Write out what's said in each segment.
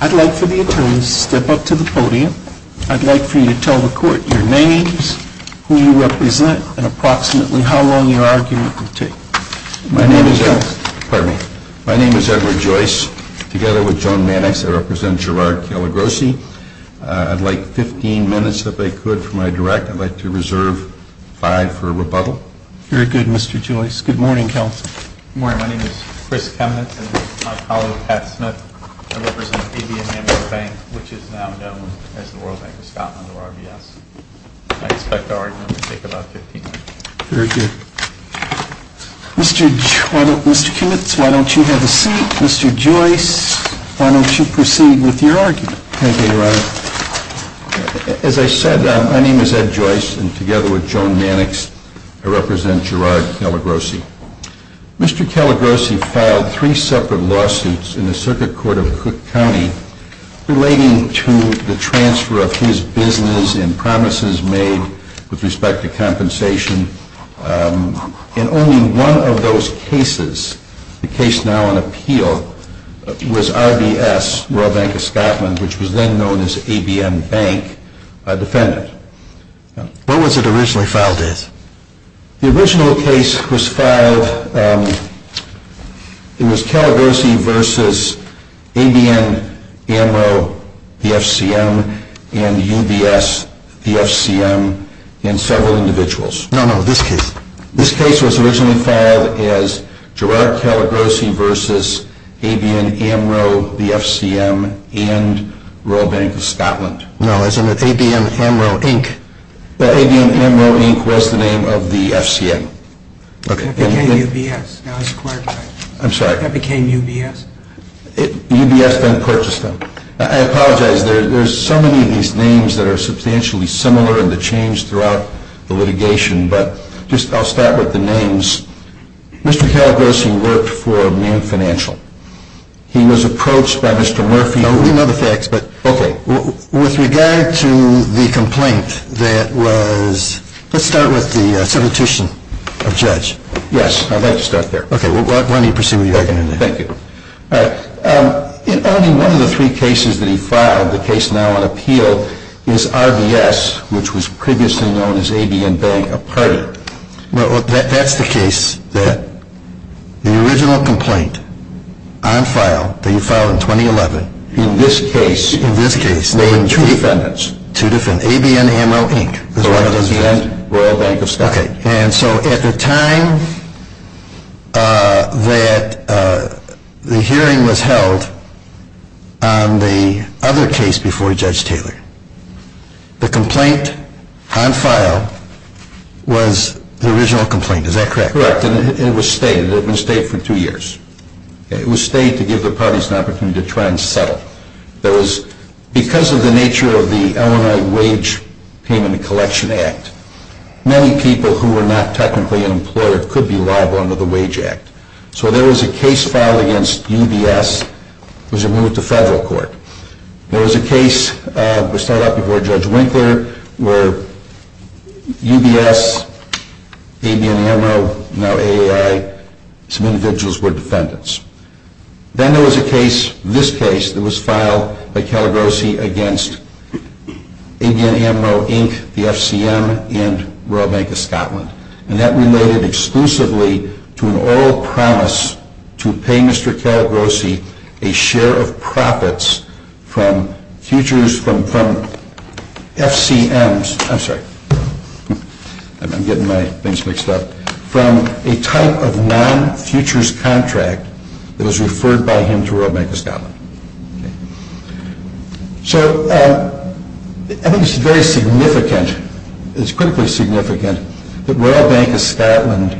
I'd like for the attorneys to step up to the podium. I'd like for you to tell the court your names, who you represent, and approximately how long your argument will take. My name is Edward Joyce. Together with Joan Mannix, I represent Gerard Calagrossi. I'd like 15 minutes, if I could, for my direct. I'd like to reserve five for rebuttal. Very good, Mr. Joyce. Good morning, counsel. Good morning. My name is Chris Kemenetz, and this is my colleague, Pat Smith. I represent BB & Hamilton Bank, which is now known as the Royal Bank of Scotland, or RBS. I expect our argument to take about 15 minutes. Very good. Mr. Kemenetz, why don't you have a seat? Mr. Joyce, why don't you proceed with your argument? Thank you, Your Honor. As I said, my name is Ed Joyce, and together with Joan Mannix, I represent Gerard Calagrossi. Mr. Calagrossi filed three separate lawsuits in the Circuit Court of Cook County relating to the transfer of his business and promises made with respect to compensation. And only one of those cases, the case now on appeal, was RBS, Royal Bank of Scotland, which was then known as ABM Bank, defended. What was it originally filed as? The original case was filed, it was Calagrossi v. ABM, AMRO, the FCM, and UBS, the FCM, and several individuals. No, no, this case. This case was originally filed as Gerard Calagrossi v. ABM, AMRO, the FCM, and Royal Bank of Scotland. No, as in ABM, AMRO, Inc. ABM, AMRO, Inc. was the name of the FCM. That became UBS. Now it's acquired by UBS. I'm sorry? That became UBS. UBS then purchased them. I apologize, there's so many of these names that are substantially similar in the change throughout the litigation, but I'll start with the names. Mr. Calagrossi worked for Moon Financial. He was approached by Mr. Murphy. We know the facts, but with regard to the complaint that was, let's start with the Substitution of Judge. Yes, I'd like to start there. Okay, why don't you proceed with your argument. Thank you. In only one of the three cases that he filed, the case now on appeal, is RBS, which was previously known as ABM Bank, a partner. Well, that's the case that the original complaint on file, that you filed in 2011. In this case. In this case. There were two defendants. Two defendants. ABM, AMRO, Inc. Royal Bank of Scotland. Okay, and so at the time that the hearing was held on the other case before Judge Taylor, the complaint on file was the original complaint, is that correct? Correct, and it was stayed. It had been stayed for two years. It was stayed to give the parties an opportunity to try and settle. There was, because of the nature of the Illinois Wage Payment and Collection Act, many people who were not technically an employer could be liable under the Wage Act. So there was a case filed against UBS, which it moved to federal court. There was a case, which started out before Judge Winkler, where UBS, ABM, AMRO, now AAI, some individuals were defendants. Then there was a case, this case, that was filed by Caligrosi against ABM, AMRO, Inc., the FCM, and Royal Bank of Scotland. And that related exclusively to an oral promise to pay Mr. Caligrosi a share of profits from futures, from FCMs, I'm sorry, I'm getting my things mixed up, from a type of non-futures contract that was referred by him to Royal Bank of Scotland. So I think it's very significant, it's critically significant, that Royal Bank of Scotland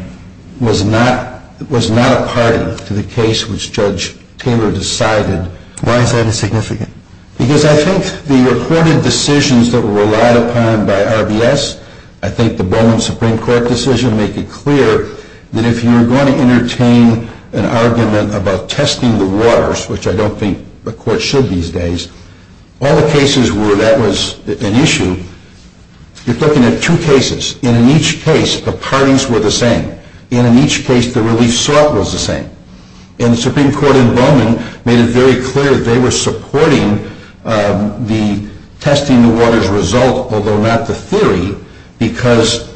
was not a party to the case which Judge Taylor decided. Why is that significant? Because I think the reported decisions that were relied upon by RBS, I think the Bowman Supreme Court decision, make it clear that if you're going to entertain an argument about testing the waters, which I don't think the court should these days, all the cases where that was an issue, you're looking at two cases. And in each case, the parties were the same. And in each case, the relief sought was the same. And the Supreme Court in Bowman made it very clear they were supporting the testing the waters result, although not the theory, because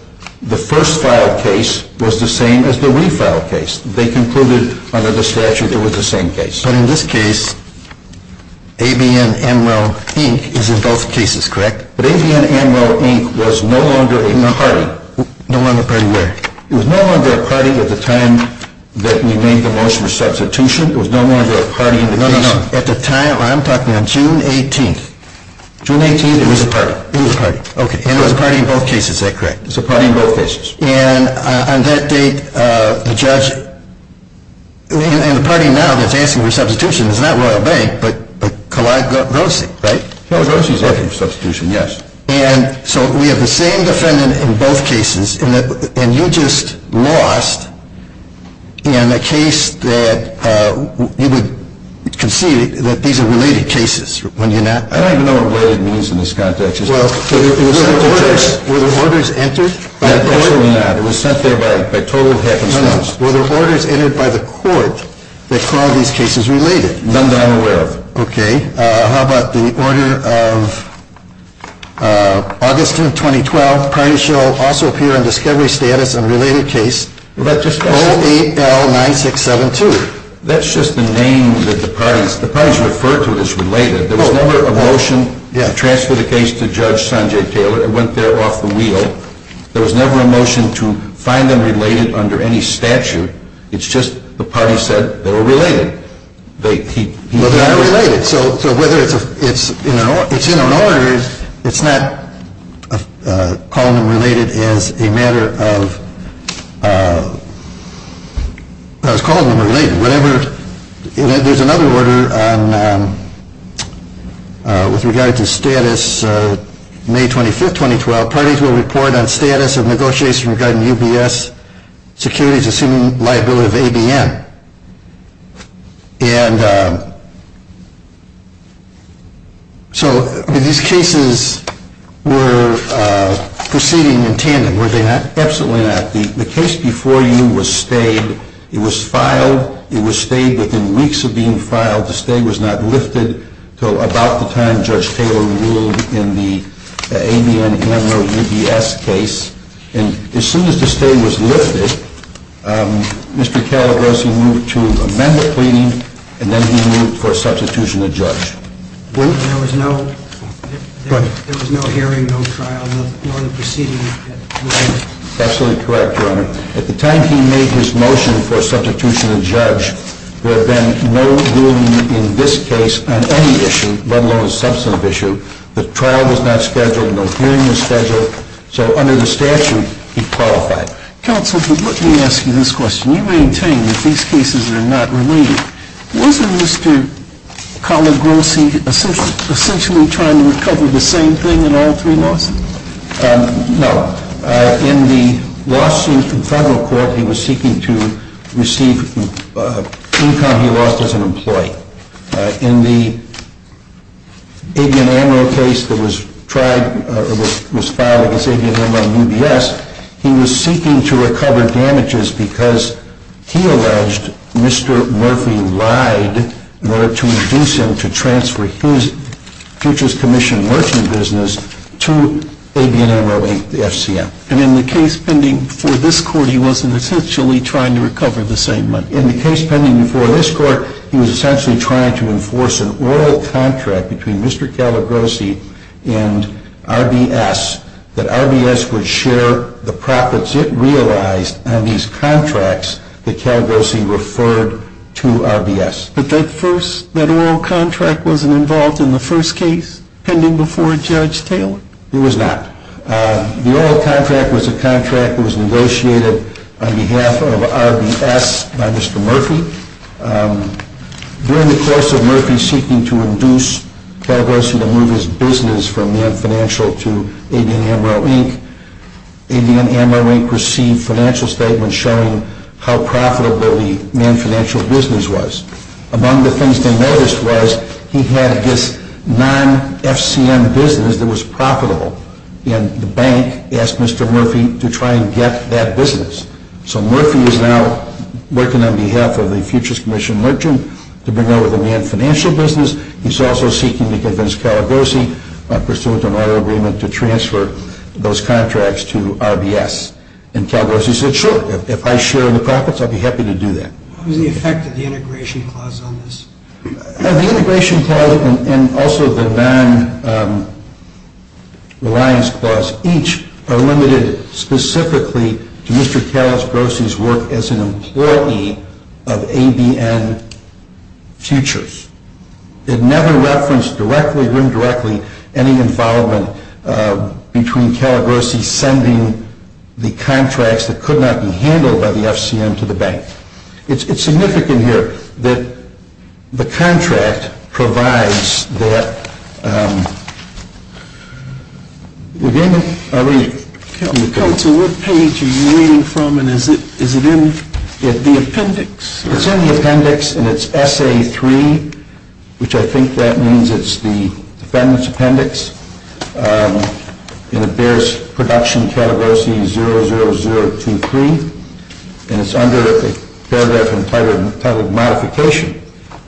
the first filed case was the same as the refiled case. They concluded under the statute it was the same case. But in this case, ABM, AMRO, Inc. is in both cases, correct? But ABM, AMRO, Inc. was no longer a party. No longer a party where? It was no longer a party at the time that we made the motion for substitution. It was no longer a party in the case. No, no, no. At the time, I'm talking on June 18th. June 18th, it was a party. It was a party. Okay. And it was a party in both cases, is that correct? It was a party in both cases. And on that date, the judge, and the party now that's asking for substitution is not Royal Bank, but Kalai Rosi, right? Kalai Rosi is asking for substitution, yes. And so we have the same defendant in both cases. And you just lost in a case that you would concede that these are related cases when you're not. I don't even know what related means in this context. Well, were there orders entered? Absolutely not. It was sent there by a total of half a dozen. No, no. Were there orders entered by the court that called these cases related? None that I'm aware of. Okay. How about the order of August 10th, 2012, parties shall also appear in discovery status on related case 08L9672. That's just the name that the parties, the parties referred to as related. There was never a motion to transfer the case to Judge Sanjay Taylor. It went there off the wheel. There was never a motion to find them related under any statute. It's just the parties said they were related. Well, they are related. So whether it's in an order, it's not calling them related as a matter of – I was calling them related. There's another order with regard to status May 25th, 2012, parties will report on status of negotiation regarding UBS securities assuming liability of ABN. And so these cases were proceeding in tandem, were they not? Absolutely not. The case before you was stayed. It was filed. It was stayed within weeks of being filed. The case before you was filed. But the case before you was filed, the stay was not lifted until about the time Judge Taylor ruled in the ABN-NRO-UBS case. And as soon as the stay was lifted, Mr. Calabrosi moved to amend the pleading, and then he moved for substitution of judge. There was no hearing, no trial, nor the proceeding. Absolutely correct, Your Honor. At the time he made his motion for substitution of judge, there had been no ruling in this case on any issue, let alone a substantive issue. The trial was not scheduled, no hearing was scheduled, so under the statute, he qualified. Counsel, let me ask you this question. You maintain that these cases are not related. Was Mr. Calabrosi essentially trying to recover the same thing in all three lawsuits? No. In the lawsuit in federal court, he was seeking to receive income he lost as an employee. In the ABN-NRO case that was filed against ABN-NRO-UBS, he was seeking to recover damages because he alleged Mr. Murphy lied to induce him to transfer his futures commission merchant business to ABN-NRO-FCM. And in the case pending before this court, he wasn't essentially trying to recover the same money? In the case pending before this court, he was essentially trying to enforce an oral contract between Mr. Calabrosi and RBS that RBS would share the profits it realized on these contracts that Calabrosi referred to RBS. But that first, that oral contract wasn't involved in the first case pending before Judge Taylor? It was not. The oral contract was a contract that was negotiated on behalf of RBS by Mr. Murphy. During the course of Murphy seeking to induce Calabrosi to move his business from man financial to ABN-NRO-inc, ABN-NRO-inc received financial statements showing how profitable the man financial business was. Among the things they noticed was he had this non-FCM business that was profitable, and the bank asked Mr. Murphy to try and get that business. So Murphy is now working on behalf of the futures commission merchant to bring over the man financial business. He's also seeking to convince Calabrosi, pursuant to an oral agreement, to transfer those contracts to RBS. And Calabrosi said, sure, if I share the profits, I'd be happy to do that. What was the effect of the integration clause on this? The integration clause and also the non-reliance clause each are limited specifically to Mr. Calabrosi's work as an employee of ABN Futures. It never referenced directly or indirectly any involvement between Calabrosi sending the contracts that could not be handled by the FCM to the bank. It's significant here that the contract provides that... Counsel, what page are you reading from and is it in the appendix? It's in the appendix and it's SA3, which I think that means it's the defendant's appendix. And it bears production Calabrosi 00023, and it's under a paragraph entitled modification.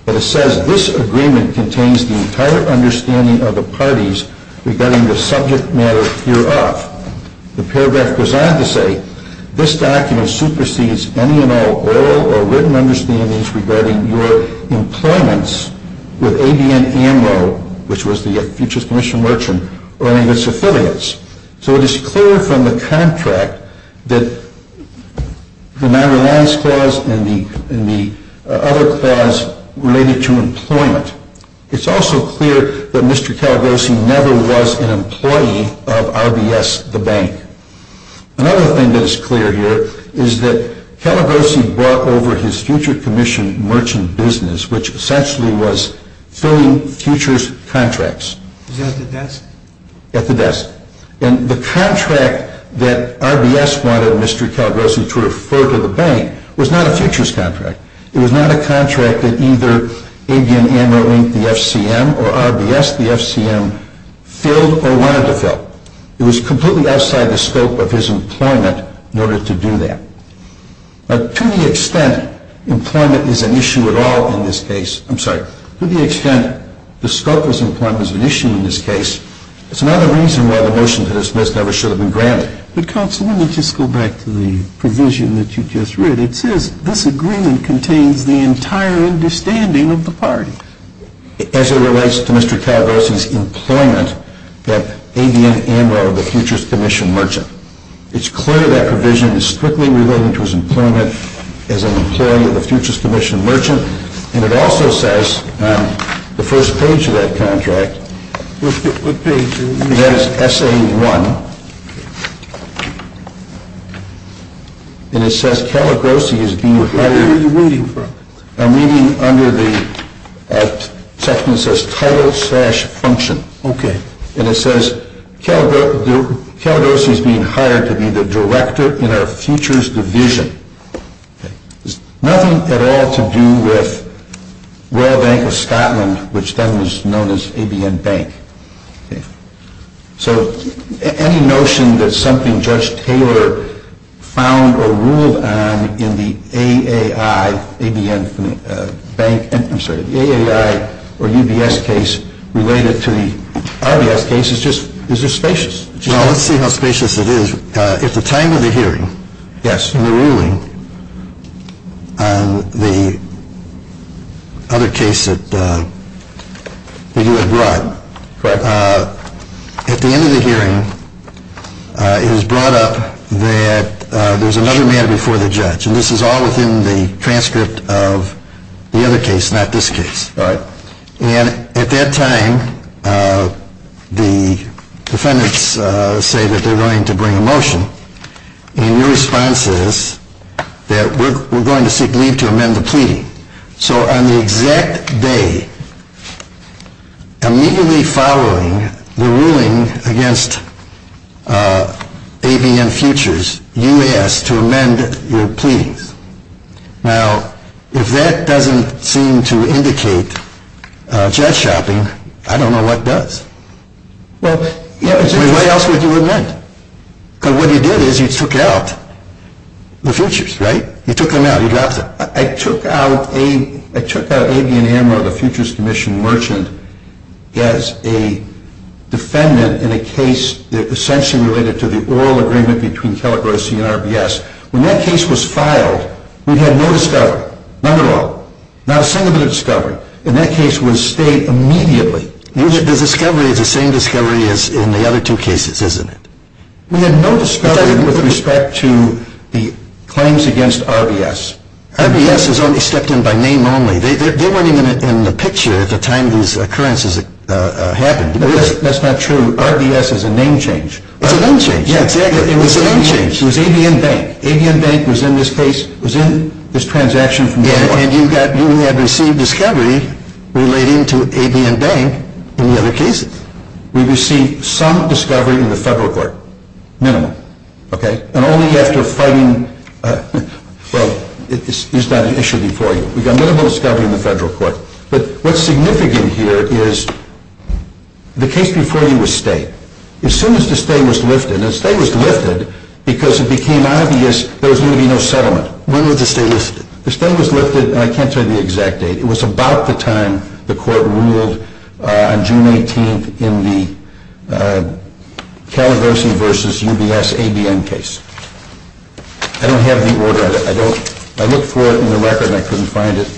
But it says, this agreement contains the entire understanding of the parties regarding the subject matter hereof. The paragraph goes on to say, this document supersedes any and all oral or written understandings regarding your employments with ABN AMRO, which was the Futures Commission Merchant, or any of its affiliates. So it is clear from the contract that the non-reliance clause and the other clause related to employment. It's also clear that Mr. Calabrosi never was an employee of RBS, the bank. Another thing that is clear here is that Calabrosi brought over his Future Commission Merchant business, which essentially was filling Futures contracts at the desk. And the contract that RBS wanted Mr. Calabrosi to refer to the bank was not a Futures contract. It was not a contract that either ABN AMRO linked the FCM or RBS the FCM filled or wanted to fill. It was completely outside the scope of his employment in order to do that. To the extent employment is an issue at all in this case, I'm sorry, to the extent the scope of his employment is an issue in this case, it's another reason why the motion to dismiss never should have been granted. But, Counsel, let me just go back to the provision that you just read. It says this agreement contains the entire understanding of the party. As it relates to Mr. Calabrosi's employment at ABN AMRO, the Futures Commission Merchant, it's clear that provision is strictly related to his employment as an employee of the Futures Commission Merchant. And it also says on the first page of that contract, it has SA1. And it says Calabrosi is being hired. Where are you reading from? I'm reading under the section that says title slash function. Okay. And it says Calabrosi is being hired to be the director in our Futures division. Okay. There's nothing at all to do with Royal Bank of Scotland, which then was known as ABN Bank. Okay. So any notion that something Judge Taylor found or ruled on in the AAI, ABN Bank, I'm sorry, the AAI or UBS case related to the RBS case is just spacious. Well, let's see how spacious it is. If the time of the hearing in the ruling on the other case that you had brought, at the end of the hearing it was brought up that there's another matter before the judge. And this is all within the transcript of the other case, not this case. Right. And at that time the defendants say that they're going to bring a motion. And your response is that we're going to seek leave to amend the pleading. So on the exact day, immediately following the ruling against ABN Futures, you asked to amend your pleadings. Now, if that doesn't seem to indicate judge shopping, I don't know what does. Well, yeah. What else would you have meant? Because what you did is you took out the Futures, right? You took them out. I took out ABN AMRO, the Futures Commission Merchant, as a defendant in a case essentially related to the We had no discovery. None at all. Not a single bit of discovery. And that case was stayed immediately. The discovery is the same discovery as in the other two cases, isn't it? We had no discovery with respect to the claims against RBS. RBS has only stepped in by name only. They weren't even in the picture at the time these occurrences happened. That's not true. RBS is a name change. It's a name change. Yeah, exactly. It's a name change. It was ABN Bank. ABN Bank was in this case, was in this transaction from the court. Yeah, and you had received discovery relating to ABN Bank in the other cases. We received some discovery in the federal court. Minimal. Okay? And only after fighting, well, it's not an issue before you. We got minimal discovery in the federal court. But what's significant here is the case before you was stayed. As soon as the stay was lifted, and the stay was lifted because it became obvious there was going to be no settlement. When was the stay lifted? The stay was lifted, and I can't tell you the exact date. It was about the time the court ruled on June 18th in the Calabasas versus UBS ABN case. I don't have the order. I looked for it in the record, and I couldn't find it.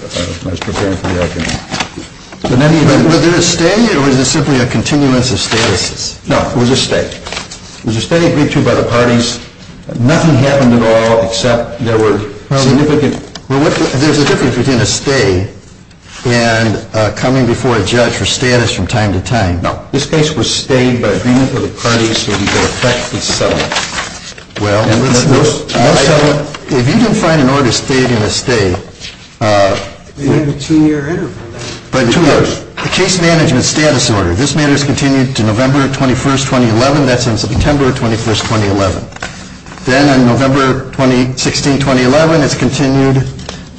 I was preparing for the afternoon. Was there a stay, or was it simply a continuance of statuses? No, it was a stay. It was a stay agreed to by the parties. Nothing happened at all except there were significant. There's a difference between a stay and coming before a judge for status from time to time. No. This case was stayed by agreement with the parties so we could affect the settlement. Well, if you didn't find an order stayed in a stay. You had a two-year interval. A case management status order. This matter is continued to November 21st, 2011. That's on September 21st, 2011. Then on November 16th, 2011, it's continued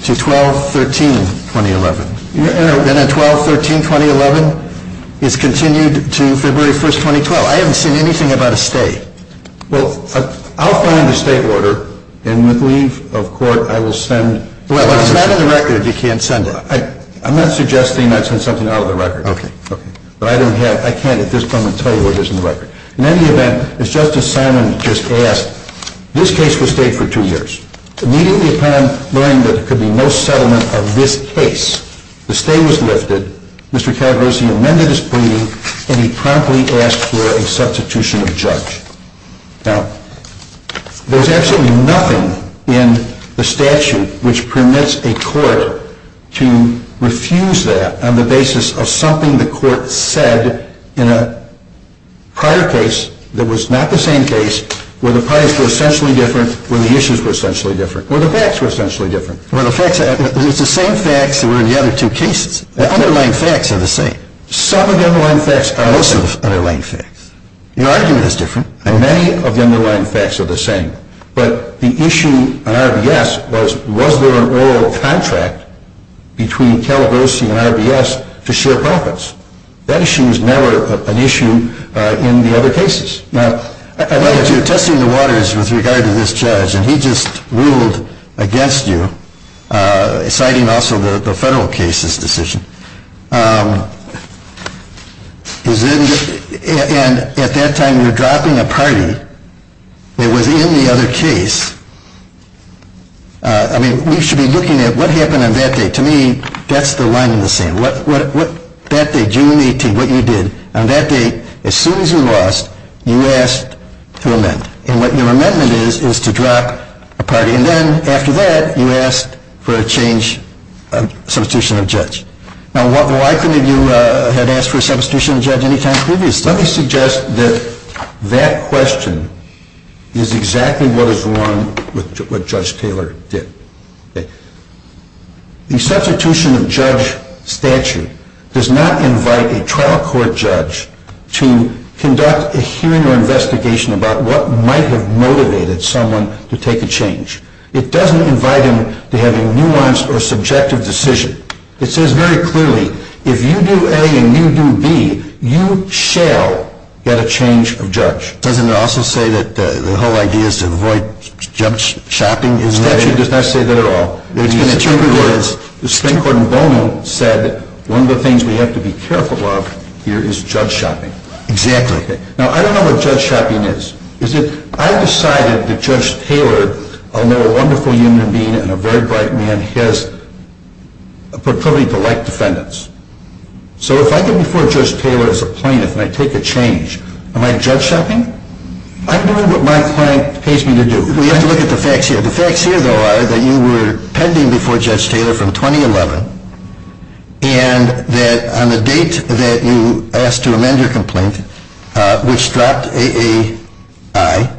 to 12-13-2011. Then on 12-13-2011, it's continued to February 1st, 2012. I haven't seen anything about a stay. Well, I'll find a stay order, and with leave of court, I will send. Well, if it's not in the record, you can't send it. I'm not suggesting I send something out of the record. Okay. But I can't at this point tell you what is in the record. In any event, as Justice Simon just asked, this case was stayed for two years. Immediately upon learning that there could be no settlement of this case, the stay was lifted. Mr. Cadros, he amended his pleading, and he promptly asked for a substitution of judge. Now, there's absolutely nothing in the statute which permits a court to refuse that on the basis of something the court said in a prior case that was not the same case, where the parties were essentially different, where the issues were essentially different, where the facts were essentially different. Well, it's the same facts that were in the other two cases. The underlying facts are the same. Some underlying facts are the same. Most of the underlying facts. Your argument is different. Many of the underlying facts are the same. But the issue on RBS was, was there an oral contract between Calabrese and RBS to share profits? That issue is never an issue in the other cases. Now, I know that you're testing the waters with regard to this judge, and he just ruled against you, citing also the federal case's decision. And at that time, you're dropping a party that was in the other case. I mean, we should be looking at what happened on that day. To me, that's the line in the sand. That day, June 18, what you did, on that day, as soon as you lost, you asked to amend. And what your amendment is, is to drop a party. And then, after that, you asked for a change, a substitution of judge. Now, why couldn't you have asked for a substitution of judge any time previously? Let me suggest that that question is exactly what is wrong with what Judge Taylor did. The substitution of judge statute does not invite a trial court judge to conduct a hearing or investigation about what might have motivated someone to take a change. It doesn't invite him to have a nuanced or subjective decision. It says very clearly, if you do A and you do B, you shall get a change of judge. Doesn't it also say that the whole idea is to avoid judge shopping? Statute does not say that at all. The Supreme Court in Bowman said, one of the things we have to be careful of here is judge shopping. Exactly. Now, I don't know what judge shopping is. I decided that Judge Taylor, although a wonderful human being and a very bright man, has a proclivity to like defendants. So, if I go before Judge Taylor as a plaintiff and I take a change, am I judge shopping? I'm doing what my client pays me to do. We have to look at the facts here. The facts here, though, are that you were pending before Judge Taylor from 2011, and that on the date that you asked to amend your complaint, which dropped A.A.I.,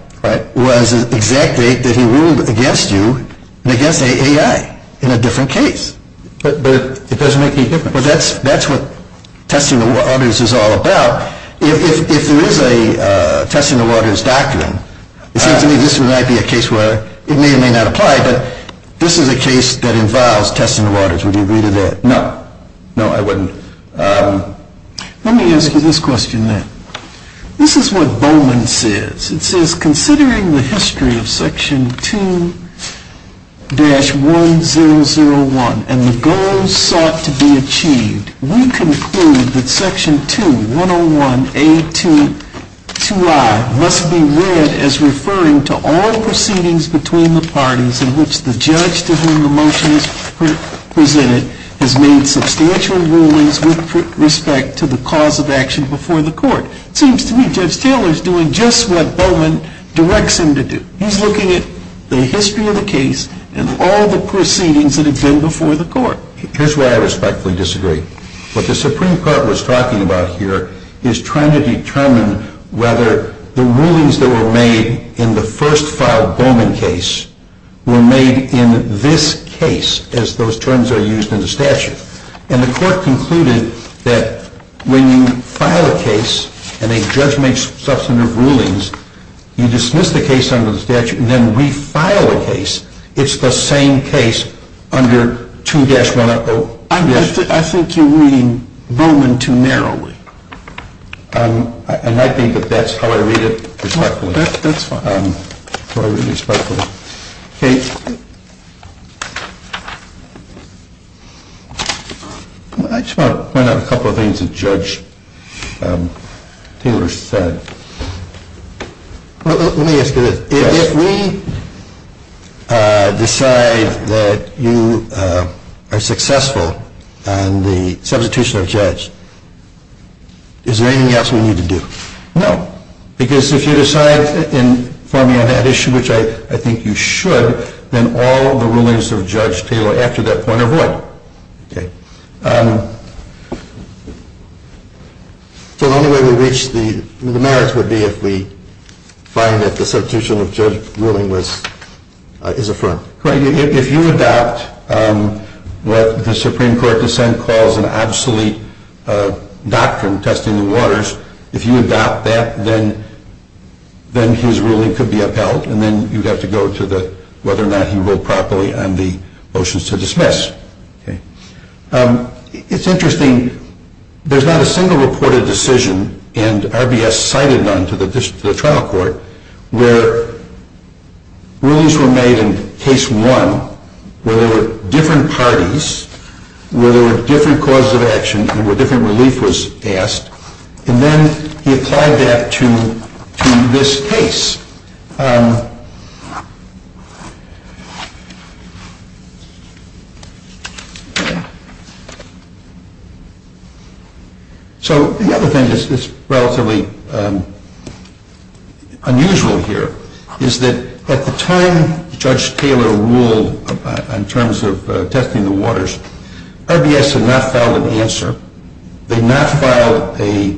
was the exact date that he ruled against you and against A.A.I. in a different case. But it doesn't make any difference. That's what testing the waters is all about. If there is a testing the waters doctrine, it seems to me this might be a case where it may or may not apply, but this is a case that involves testing the waters. Would you agree to that? No. No, I wouldn't. Let me ask you this question then. This is what Bowman says. It says, considering the history of Section 2-1001 and the goals sought to be achieved, we conclude that Section 2-101A2-2I must be read as referring to all proceedings between the parties in which the judge to whom the motion is presented has made substantial rulings with respect to the cause of action before the court. It seems to me Judge Taylor is doing just what Bowman directs him to do. He's looking at the history of the case and all the proceedings that have been before the court. Here's where I respectfully disagree. What the Supreme Court was talking about here is trying to determine whether the rulings that were made in the first filed Bowman case were made in this case as those terms are used in the statute. And the court concluded that when you file a case and a judge makes substantive rulings, you dismiss the case under the statute and then we file a case. It's the same case under 2-1001. I think you're reading Bowman too narrowly. I might be, but that's how I read it respectfully. That's fine. That's how I read it respectfully. Okay. I just want to point out a couple of things that Judge Taylor said. Let me ask you this. If we decide that you are successful in the substitution of a judge, is there anything else we need to do? No. Because if you decide to inform me on that issue, which I think you should, then all the rulings of Judge Taylor after that point are void. Okay. So the only way we reach the merits would be if we find that the substitution of judge ruling is affirmed. Correct. If you adopt what the Supreme Court dissent calls an obsolete doctrine, testing the waters, if you adopt that, then his ruling could be upheld, and then you'd have to go to whether or not he ruled properly on the motions to dismiss. Okay. It's interesting. There's not a single reported decision, and RBS cited none, to the trial court, where rulings were made in case one where there were different parties, where there were different causes of action, and where different relief was asked, and then he applied that to this case. So the other thing that's relatively unusual here is that at the time Judge Taylor ruled in terms of testing the waters, RBS had not filed an answer. They had not filed a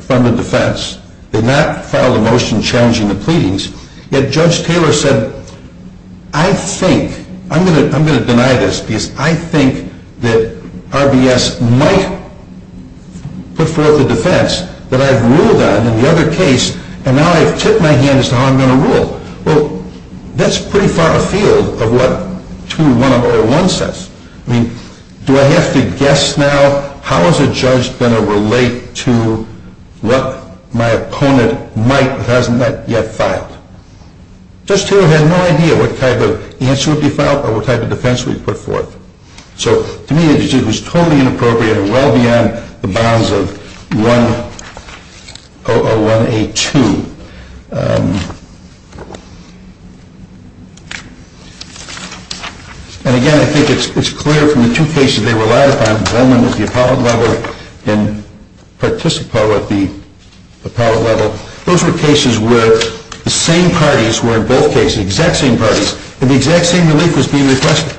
front and defense. They had not filed a motion challenging the pleadings. Yet Judge Taylor said, I think, I'm going to deny this, because I think that RBS might put forth a defense that I've ruled on in the other case, and now I've tipped my hand as to how I'm going to rule. Well, that's pretty far afield of what 21001 says. I mean, do I have to guess now? How is a judge going to relate to what my opponent might have not yet filed? Judge Taylor had no idea what type of answer would be filed or what type of defense would be put forth. So to me, it was totally inappropriate and well beyond the bounds of 1001A2. And, again, I think it's clear from the two cases they were ratified, Bowman at the appellate level and Participo at the appellate level. Those were cases where the same parties were in both cases, the exact same parties, and the exact same relief was being requested.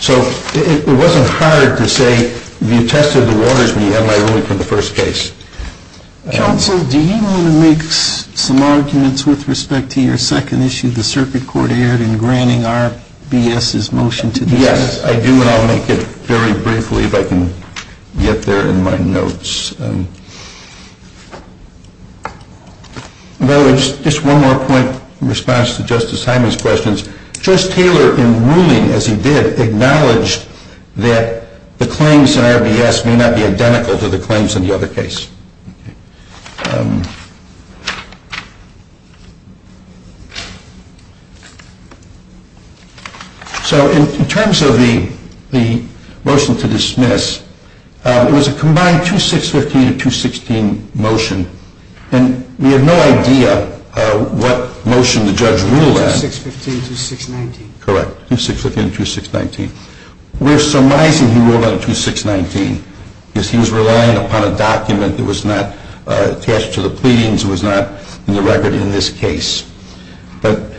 So it wasn't hard to say you tested the waters when you had my ruling for the first case. Counsel, do you want to make some arguments with respect to your second issue, the circuit court erred in granting RBS's motion to defense? Yes, I do, and I'll make it very briefly if I can get there in my notes. By the way, just one more point in response to Justice Hyman's questions. Judge Taylor, in ruling as he did, acknowledged that the claims in RBS may not be identical to the claims in the other case. So in terms of the motion to dismiss, it was a combined 2615 to 216 motion, and we have no idea what motion the judge ruled on. 2615 to 2619. Correct, 2615 to 2619. We're surmising he ruled on 2619 because he was relying upon a document that was not attached to the pleadings, it was not in the record in this case. But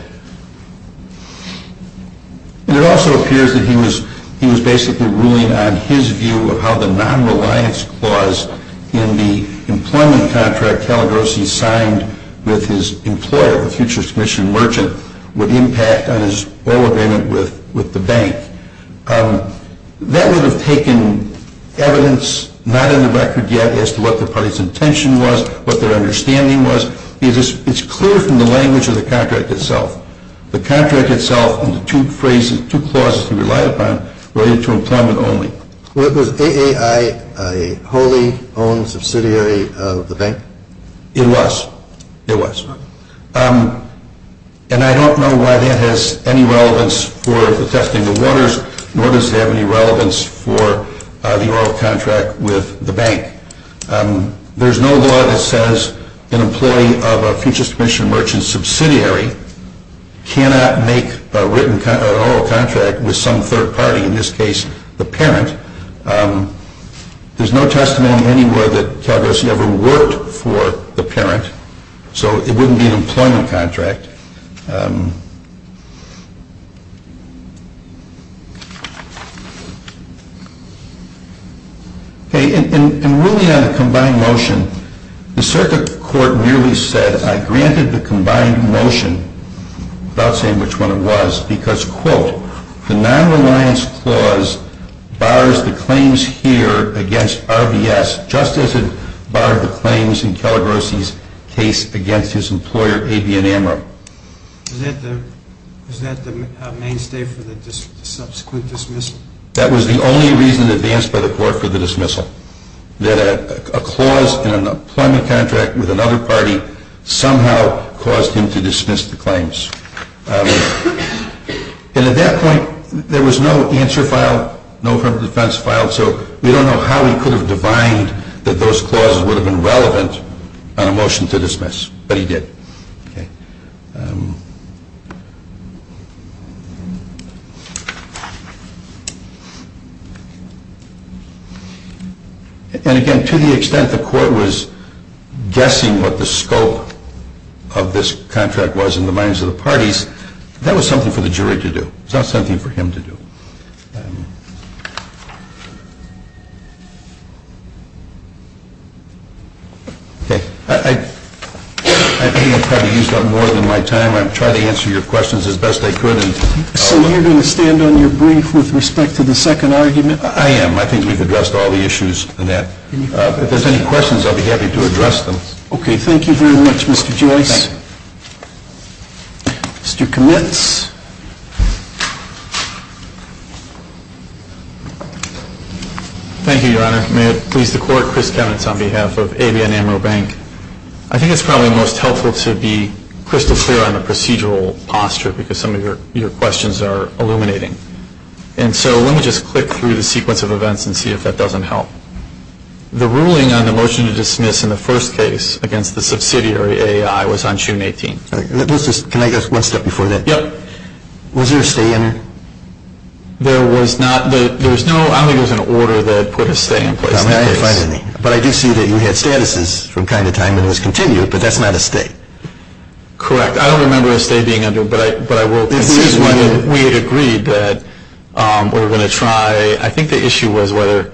it also appears that he was basically ruling on his view of how the non-reliance clause in the employment contract Telegosi signed with his employer, the future commission merchant, would impact on his oil agreement with the bank. That would have taken evidence not in the record yet as to what the party's intention was, what their understanding was, because it's clear from the language of the contract itself. The contract itself and the two clauses he relied upon related to employment only. Was AAI a wholly owned subsidiary of the bank? It was. It was. And I don't know why that has any relevance for the testing of waters, nor does it have any relevance for the oral contract with the bank. There's no law that says an employee of a future commission merchant subsidiary cannot make an oral contract with some third party, in this case the parent. There's no testimony anywhere that Telegosi ever worked for the parent, so it wouldn't be an employment contract. In ruling on the combined motion, the circuit court merely said, I granted the combined motion without saying which one it was, because, quote, the nonreliance clause bars the claims here against RBS, just as it barred the claims in Telegosi's case against his employer, AB Enamra. Is that the mainstay for the subsequent dismissal? That was the only reason advanced by the court for the dismissal, that a clause in an employment contract with another party somehow caused him to dismiss the claims. And at that point, there was no answer file, no firm defense file, so we don't know how he could have divined that those clauses would have been relevant on a motion to dismiss, but he did. And again, to the extent the court was guessing what the scope of this contract was in the minds of the parties, that was something for the jury to do. It's not something for him to do. I think I've probably used up more than my time. I'll try to answer your questions as best I could. So you're going to stand on your brief with respect to the second argument? I am. I think we've addressed all the issues in that. If there's any questions, I'll be happy to address them. Okay. Thank you very much, Mr. Joyce. Thank you. Mr. Kamitz. Thank you, Your Honor. May it please the court, Chris Kamitz on behalf of ABN Amaro Bank. I think it's probably most helpful to be crystal clear on the procedural posture, because some of your questions are illuminating. And so let me just click through the sequence of events and see if that doesn't help. The ruling on the motion to dismiss in the first case against the subsidiary AAI was on June 18th. Can I get one step before that? Yep. Was there a stay in it? There was not. I don't think there was an order that put a stay in place in that case. But I do see that you had statuses from time to time and it was continued, but that's not a stay. Correct. I don't remember a stay being under it, but I will assume we had agreed that we were going to try. I think the issue was whether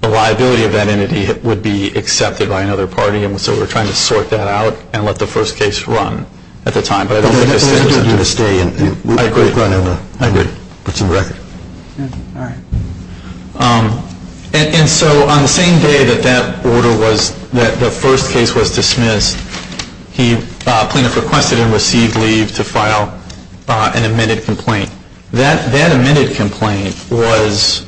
the liability of that entity would be accepted by another party, and so we were trying to sort that out and let the first case run at the time. But I don't think there was a stay in it. I agree. I agree. It's in the record. All right. And so on the same day that that order was, that the first case was dismissed, the plaintiff requested and received leave to file an amended complaint. That amended complaint was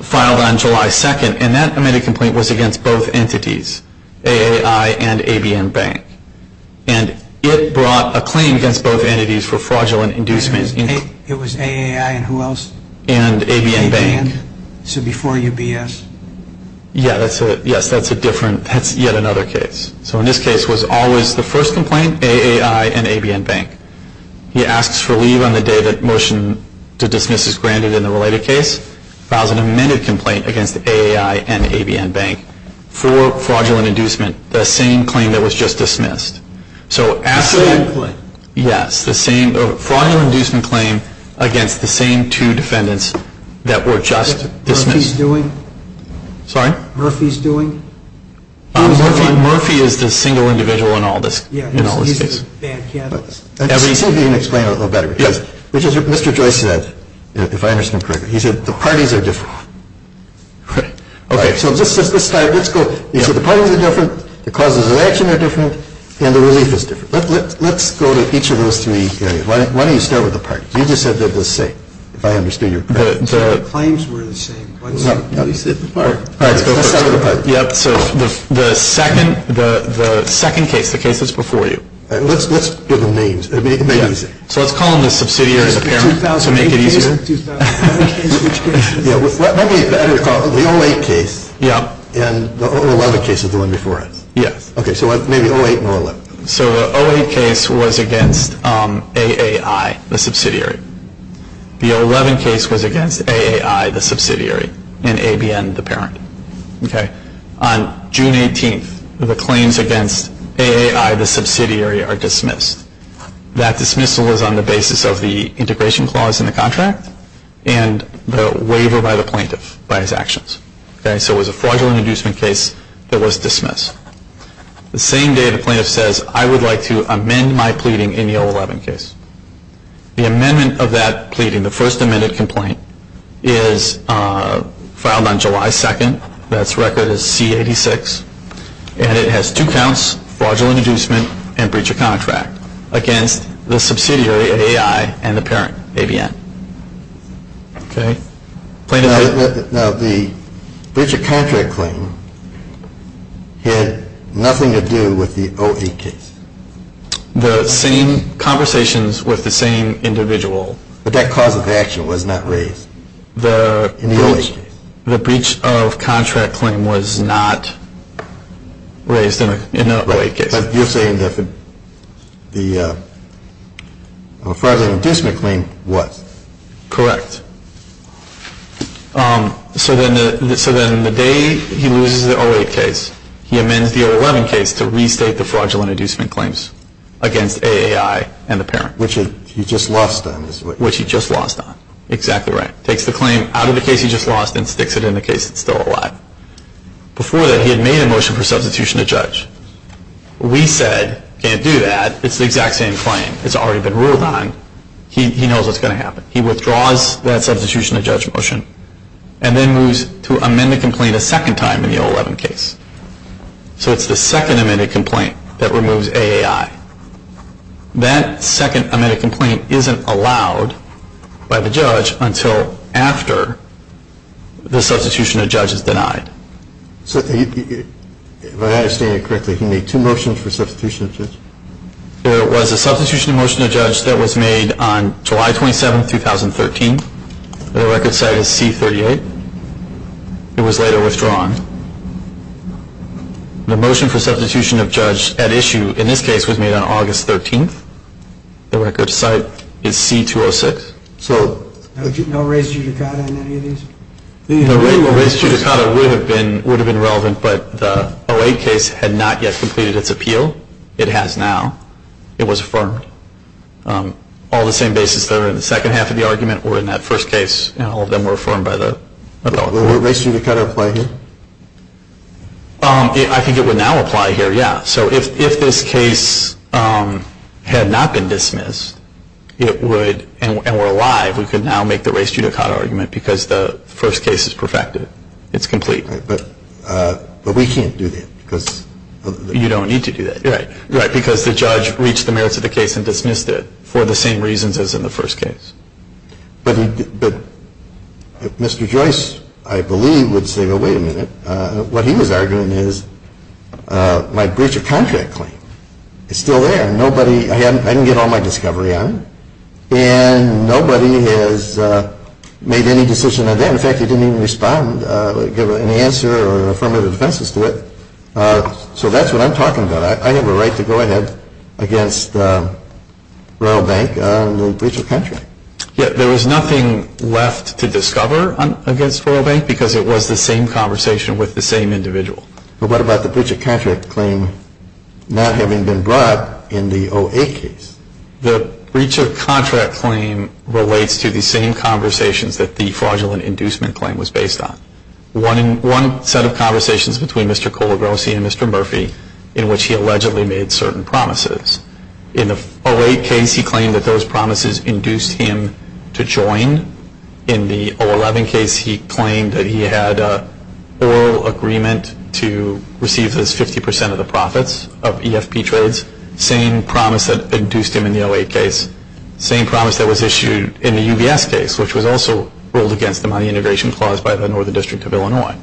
filed on July 2nd, and that amended complaint was against both entities, AAI and ABN Bank. And it brought a claim against both entities for fraudulent inducements. It was AAI and who else? And ABN Bank. So before UBS. Yes, that's a different, that's yet another case. So in this case was always the first complaint, AAI and ABN Bank. He asks for leave on the day that motion to dismiss is granted in the related case, files an amended complaint against AAI and ABN Bank for fraudulent inducement, the same claim that was just dismissed. So after that. The same claim. Yes. The same fraudulent inducement claim against the same two defendants that were just dismissed. What's Murphy's doing? Sorry? Murphy's doing? Murphy is the single individual in all this case. Let's see if you can explain it a little better. Yes. Which is what Mr. Joyce said, if I understand correctly. He said the parties are different. Right. Okay. So just this time, let's go. He said the parties are different, the causes of action are different, and the relief is different. Let's go to each of those three areas. Why don't you start with the parties? You just said they're the same, if I understood you correctly. The claims were the same. No, no. You said the parties. All right. Let's start with the parties. Yes. So the second case, the case that's before you. Let's give them names. Yes. So let's call them the subsidiary and the parent to make it easier. 2008 case? 2008 case? Which case is this? The 08 case. Yes. And the 011 case is the one before it. Yes. Okay. So maybe 08 and 011. So the 08 case was against AAI, the subsidiary. The 011 case was against AAI, the subsidiary, and ABN, the parent. Okay. On June 18th, the claims against AAI, the subsidiary, are dismissed. That dismissal is on the basis of the integration clause in the contract and the waiver by the plaintiff by his actions. Okay. So it was a fraudulent inducement case that was dismissed. The same day, the plaintiff says, I would like to amend my pleading in the 011 case. The amendment of that pleading, the first amended complaint, is filed on July 2nd. That's record is C86. And it has two counts, fraudulent inducement and breach of contract, against the subsidiary, AAI, and the parent, ABN. Okay. Now, the breach of contract claim had nothing to do with the 08 case. The same conversations with the same individual. But that cause of action was not raised in the 08 case. The breach of contract claim was not raised in the 08 case. But you're saying that the fraudulent inducement claim was. Correct. So then the day he loses the 08 case, he amends the 011 case to restate the fraudulent inducement claims against AAI and the parent. Which he just lost on. Which he just lost on. Exactly right. Takes the claim out of the case he just lost and sticks it in the case that's still alive. Before that, he had made a motion for substitution to judge. We said, can't do that. It's the exact same claim. It's already been ruled on. He knows what's going to happen. He withdraws that substitution to judge motion and then moves to amend the complaint a second time in the 011 case. So it's the second amended complaint that removes AAI. That second amended complaint isn't allowed by the judge until after the substitution to judge is denied. So if I understand it correctly, he made two motions for substitution to judge? There was a substitution to motion to judge that was made on July 27, 2013. The record site is C38. It was later withdrawn. The motion for substitution of judge at issue in this case was made on August 13. The record site is C206. So no race judicata in any of these? The race judicata would have been relevant, but the 08 case had not yet completed its appeal. It has now. It was affirmed. All the same basis there in the second half of the argument or in that first case, all of them were affirmed by the law. Would race judicata apply here? I think it would now apply here, yeah. So if this case had not been dismissed and were alive, we could now make the race judicata argument because the first case is perfected. It's complete. But we can't do that. You don't need to do that. Right, because the judge reached the merits of the case and dismissed it for the same reasons as in the first case. But Mr. Joyce, I believe, would say, well, wait a minute. What he was arguing is my breach of contract claim. It's still there. I didn't get all my discovery on it. And nobody has made any decision on that. In fact, he didn't even respond, give any answer or affirmative defenses to it. So that's what I'm talking about. I have a right to go ahead against Royal Bank on the breach of contract. Yeah, there was nothing left to discover against Royal Bank because it was the same conversation with the same individual. But what about the breach of contract claim not having been brought in the OA case? The breach of contract claim relates to the same conversations that the fraudulent inducement claim was based on. One set of conversations between Mr. Colagrosi and Mr. Murphy in which he allegedly made certain promises. In the OA case, he claimed that those promises induced him to join. In the O11 case, he claimed that he had an oral agreement to receive those 50% of the profits of EFP trades, same promise that induced him in the OA case, same promise that was issued in the UBS case, which was also ruled against the money integration clause by the Northern District of Illinois.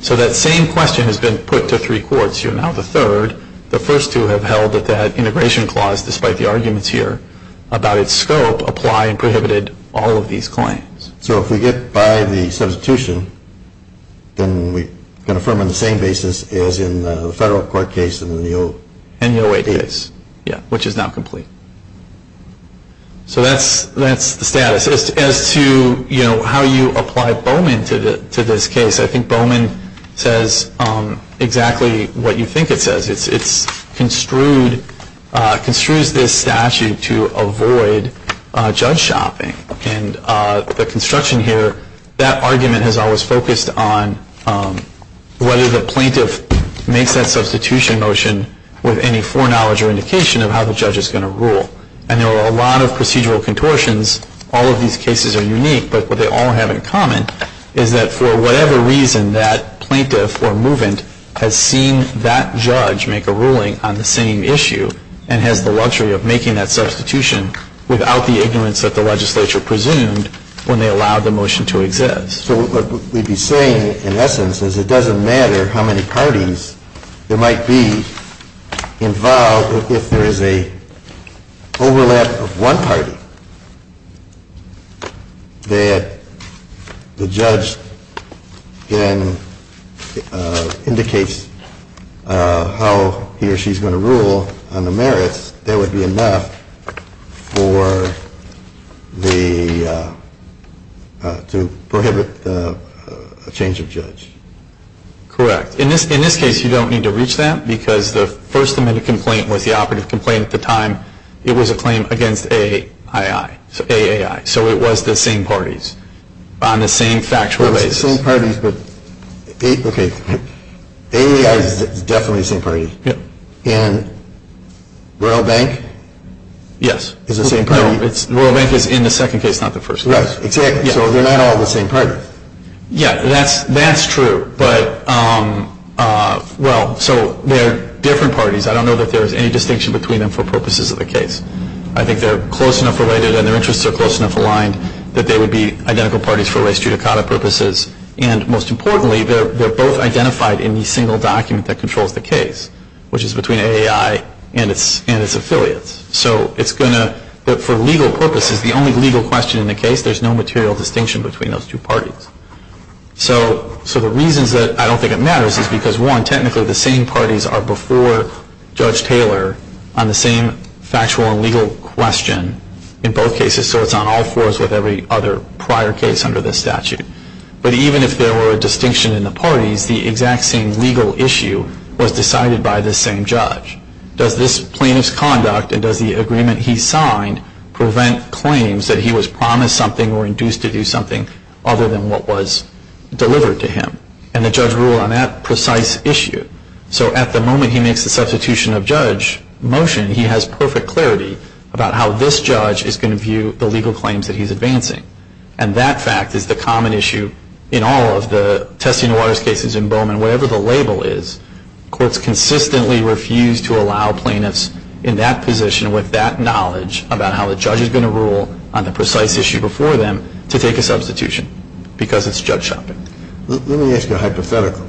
So that same question has been put to three courts. You're now the third. The first two have held that that integration clause, despite the arguments here about its scope, apply and prohibited all of these claims. So if we get by the substitution, then we can affirm on the same basis as in the federal court case and the OA case. Yeah, which is now complete. So that's the status. As to how you apply Bowman to this case, I think Bowman says exactly what you think it says. It construes this statute to avoid judge shopping. And the construction here, that argument has always focused on whether the plaintiff makes that substitution motion with any foreknowledge or indication of how the judge is going to rule. And there are a lot of procedural contortions. All of these cases are unique, but what they all have in common is that for whatever reason, that plaintiff or movant has seen that judge make a ruling on the same issue and has the luxury of making that substitution without the ignorance that the legislature presumed when they allowed the motion to exist. So what we'd be saying, in essence, is it doesn't matter how many parties there might be involved if there is an overlap of one party that the judge indicates how he or she is going to rule on the merits, that would be enough to prohibit a change of judge. Correct. In this case, you don't need to reach that because the first amendment complaint was the operative complaint at the time. It was a claim against AAI. So it was the same parties on the same factual basis. It was the same parties, but AAI is definitely the same party. And Royal Bank? Yes. Is the same party? No, Royal Bank is in the second case, not the first case. Right. Exactly. So they're not all the same party. Yeah, that's true. But, well, so they're different parties. I don't know that there is any distinction between them for purposes of the case. I think they're close enough related and their interests are close enough aligned that they would be identical parties for race judicata purposes. And most importantly, they're both identified in the single document that controls the case, which is between AAI and its affiliates. So it's going to, for legal purposes, the only legal question in the case, there's no material distinction between those two parties. So the reasons that I don't think it matters is because, one, technically the same parties are before Judge Taylor on the same factual and legal question in both cases, so it's on all fours with every other prior case under the statute. But even if there were a distinction in the parties, the exact same legal issue was decided by the same judge. Does this plaintiff's conduct and does the agreement he signed prevent claims that he was promised something or induced to do something other than what was delivered to him? And the judge ruled on that precise issue. So at the moment he makes the substitution of judge motion, he has perfect clarity about how this judge is going to view the legal claims that he's advancing. And that fact is the common issue in all of the testing of waters cases in Bowman. Whatever the label is, courts consistently refuse to allow plaintiffs in that position with that knowledge about how the judge is going to rule on the precise issue before them to take a substitution because it's judge shopping. Let me ask you a hypothetical.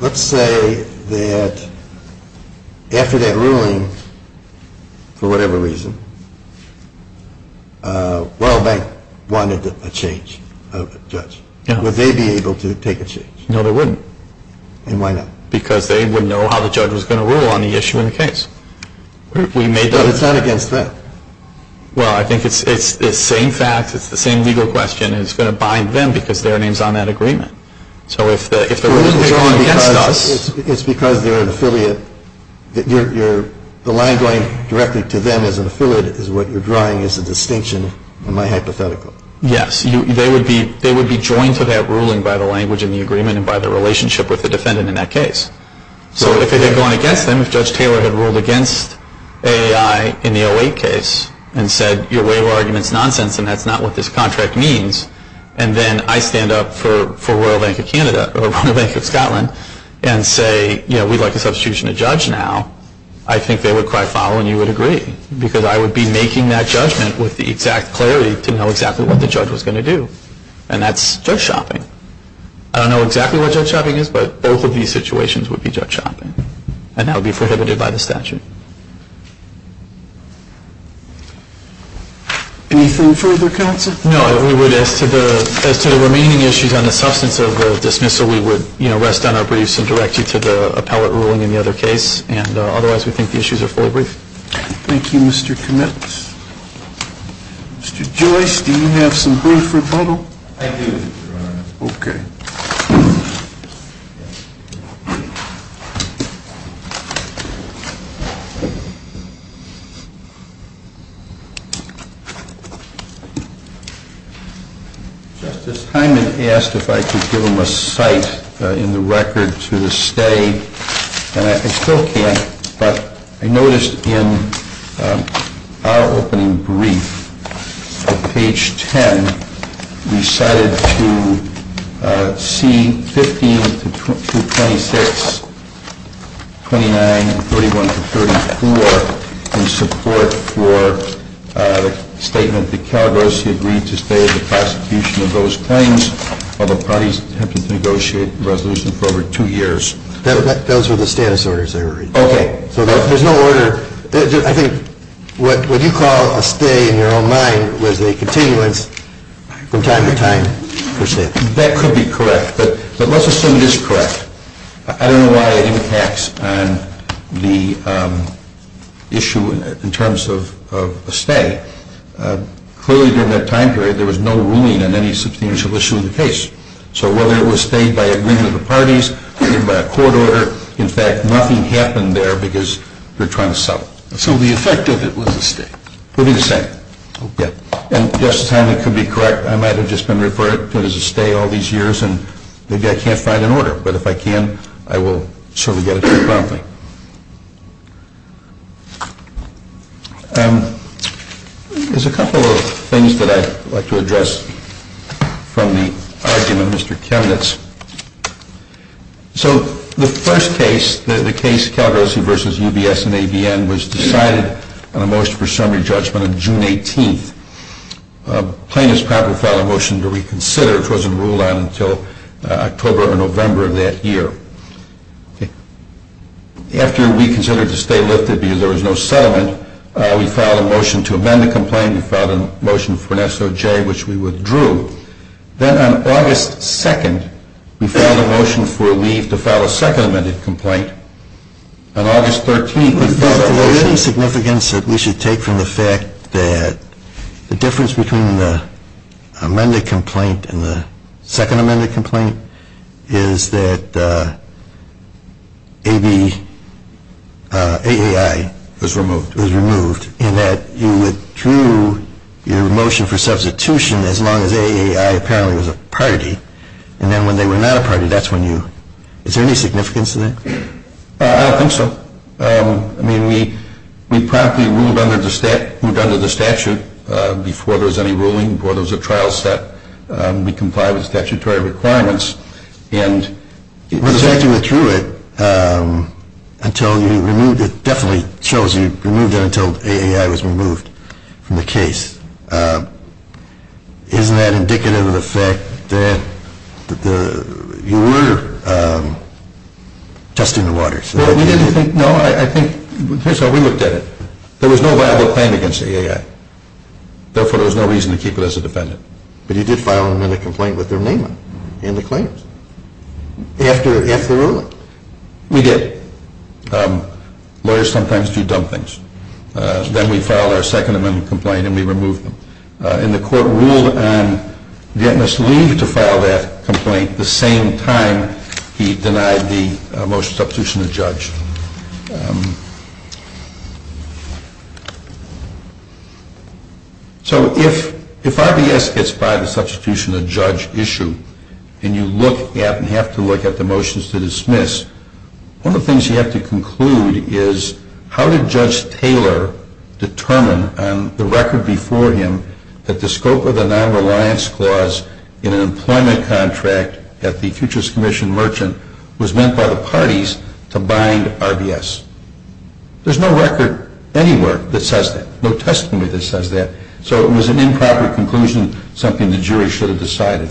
Let's say that after that ruling, for whatever reason, World Bank wanted a change of judge. Would they be able to take a change? No, they wouldn't. And why not? Because they would know how the judge was going to rule on the issue in the case. But it's not against them. Well, I think it's the same facts. It's the same legal question. And it's going to bind them because their name is on that agreement. So if the ruling is going against us. It's because they're an affiliate. The line going directly to them as an affiliate is what you're drawing as a distinction in my hypothetical. Yes. They would be joined to that ruling by the language in the agreement and by the relationship with the defendant in that case. So if it had gone against them, if Judge Taylor had ruled against AAI in the 08 case and said, your waiver argument is nonsense and that's not what this contract means, and then I stand up for Royal Bank of Canada or Royal Bank of Scotland and say, you know, we'd like a substitution of judge now, I think they would cry foul and you would agree because I would be making that judgment with the exact clarity to know exactly what the judge was going to do. And that's judge shopping. I don't know exactly what judge shopping is, but both of these situations would be judge shopping. And that would be prohibited by the statute. Anything further, counsel? No. As to the remaining issues on the substance of the dismissal, we would rest on our briefs and direct you to the appellate ruling in the other case. And otherwise, we think the issues are fully brief. Thank you, Mr. Kmetz. Mr. Joyce, do you have some brief rebuttal? I do, Your Honor. Okay. Justice Hyman asked if I could give him a cite in the record to the stay, and I still can't, but I noticed in our opening brief, page 10, we cited to C-15 to 226, 29, 31 to 34, in support for the statement that Calabrosi agreed to stay in the prosecution of those claims while the parties have to negotiate a resolution for over two years. Those were the status orders they were reading. Okay. So there's no order. I think what you call a stay in your own mind was a continuance from time to time, per se. That could be correct, but let's assume it is correct. I don't know why it impacts on the issue in terms of a stay. Clearly, during that time period, there was no ruling on any substantial issue in the case. So whether it was stayed by agreement of the parties, agreed by a court order, in fact, nothing happened there because they're trying to settle. So the effect of it was a stay. It would be the same. Okay. And, Justice Hyman, it could be correct. I might have just been referred to it as a stay all these years, and maybe I can't find an order. But if I can, I will certainly get it to you promptly. There's a couple of things that I'd like to address from the argument of Mr. Chemnitz. So the first case, the case Calgosy v. UBS and ABN, was decided on a motion for summary judgment on June 18th. Plaintiff's proper filed a motion to reconsider, which wasn't ruled on until October or November of that year. After we considered to stay lifted because there was no settlement, we filed a motion to amend the complaint. We filed a motion for an SOJ, which we withdrew. Then on August 2nd, we filed a motion for leave to file a second amended complaint. On August 13th, we filed a motion. Is there any significance that we should take from the fact that the difference between the amended complaint and the second amended complaint is that AAI was removed, and that you withdrew your motion for substitution as long as AAI apparently was a party, and then when they were not a party, that's when you... Is there any significance to that? I don't think so. I mean, we promptly moved under the statute before there was any ruling, before there was a trial set. We complied with statutory requirements, and... It definitely shows you removed it until AAI was removed from the case. Isn't that indicative of the fact that you were just in the water? Well, we didn't think... No, I think... Here's how we looked at it. There was no viable claim against AAI. Therefore, there was no reason to keep it as a defendant. But you did file an amended complaint with their name on it and the claims after the ruling. So, we did. Lawyers sometimes do dumb things. Then we filed our second amended complaint and we removed them. And the court ruled on Vietnamese leave to file that complaint the same time he denied the motion substitution of judge. So, if RBS gets by the substitution of judge issue and you look at and have to look at the motions to dismiss, one of the things you have to conclude is how did Judge Taylor determine on the record before him that the scope of the nonreliance clause in an employment contract at the Futures Commission Merchant was meant by the parties to bind RBS? There's no record anywhere that says that. No testimony that says that. So, it was an improper conclusion, something the jury should have decided.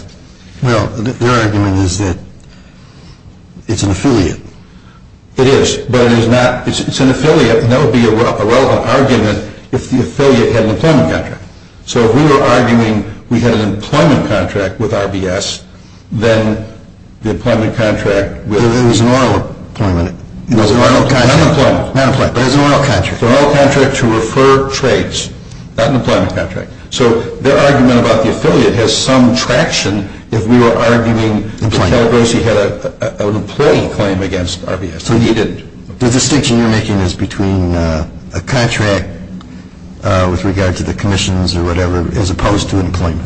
Well, their argument is that it's an affiliate. It is, but it's an affiliate and that would be a relevant argument if the affiliate had an employment contract. So, if we were arguing we had an employment contract with RBS, then the employment contract with... It was an oral appointment. It was an oral contract. Not an employment. But it was an oral contract. An oral contract to refer trades, not an employment contract. So, their argument about the affiliate has some traction if we were arguing that Calabrese had an employee claim against RBS. So, he didn't. The distinction you're making is between a contract with regard to the commissions or whatever as opposed to an employment.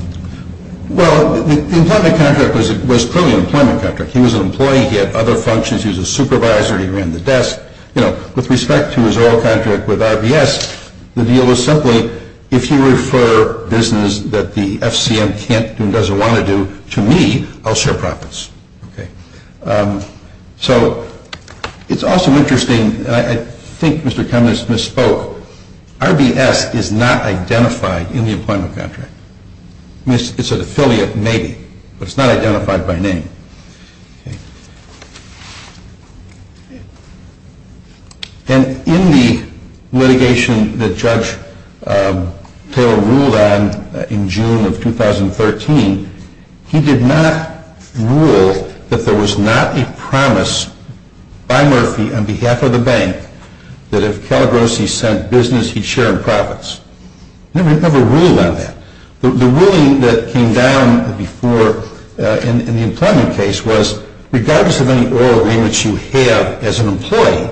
Well, the employment contract was clearly an employment contract. He was an employee. He had other functions. He was a supervisor. He ran the desk. You know, with respect to his oral contract with RBS, the deal was simply, if you refer business that the FCM can't do and doesn't want to do to me, I'll share profits. Okay. So, it's also interesting. I think Mr. Cummings misspoke. RBS is not identified in the employment contract. It's an affiliate maybe, but it's not identified by name. And in the litigation that Judge Taylor ruled on in June of 2013, he did not rule that there was not a promise by Murphy on behalf of the bank that if Calabrese sent business, he'd share in profits. He never ruled on that. The ruling that came down before in the employment case was regardless of any oral agreements you have as an employee,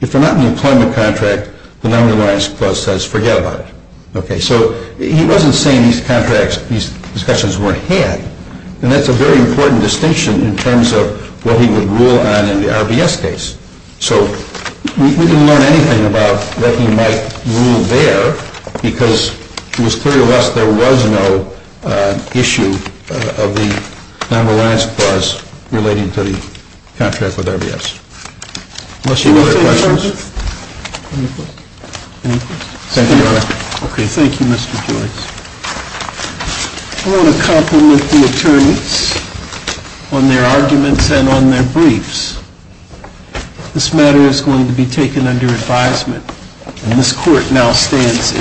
if they're not in the employment contract, the number of lines closed says forget about it. Okay. So, he wasn't saying these contracts, these discussions weren't had. And that's a very important distinction in terms of what he would rule on in the RBS case. So, we didn't learn anything about that he might rule there because it was clear to us there was no issue of the number of lines closed relating to the contract with RBS. Unless you have other questions. Any questions? Thank you, Your Honor. Okay. Thank you, Mr. Joyce. I want to compliment the attorneys on their arguments and on their briefs. This matter is going to be taken under advisement. And this court now stands in recess.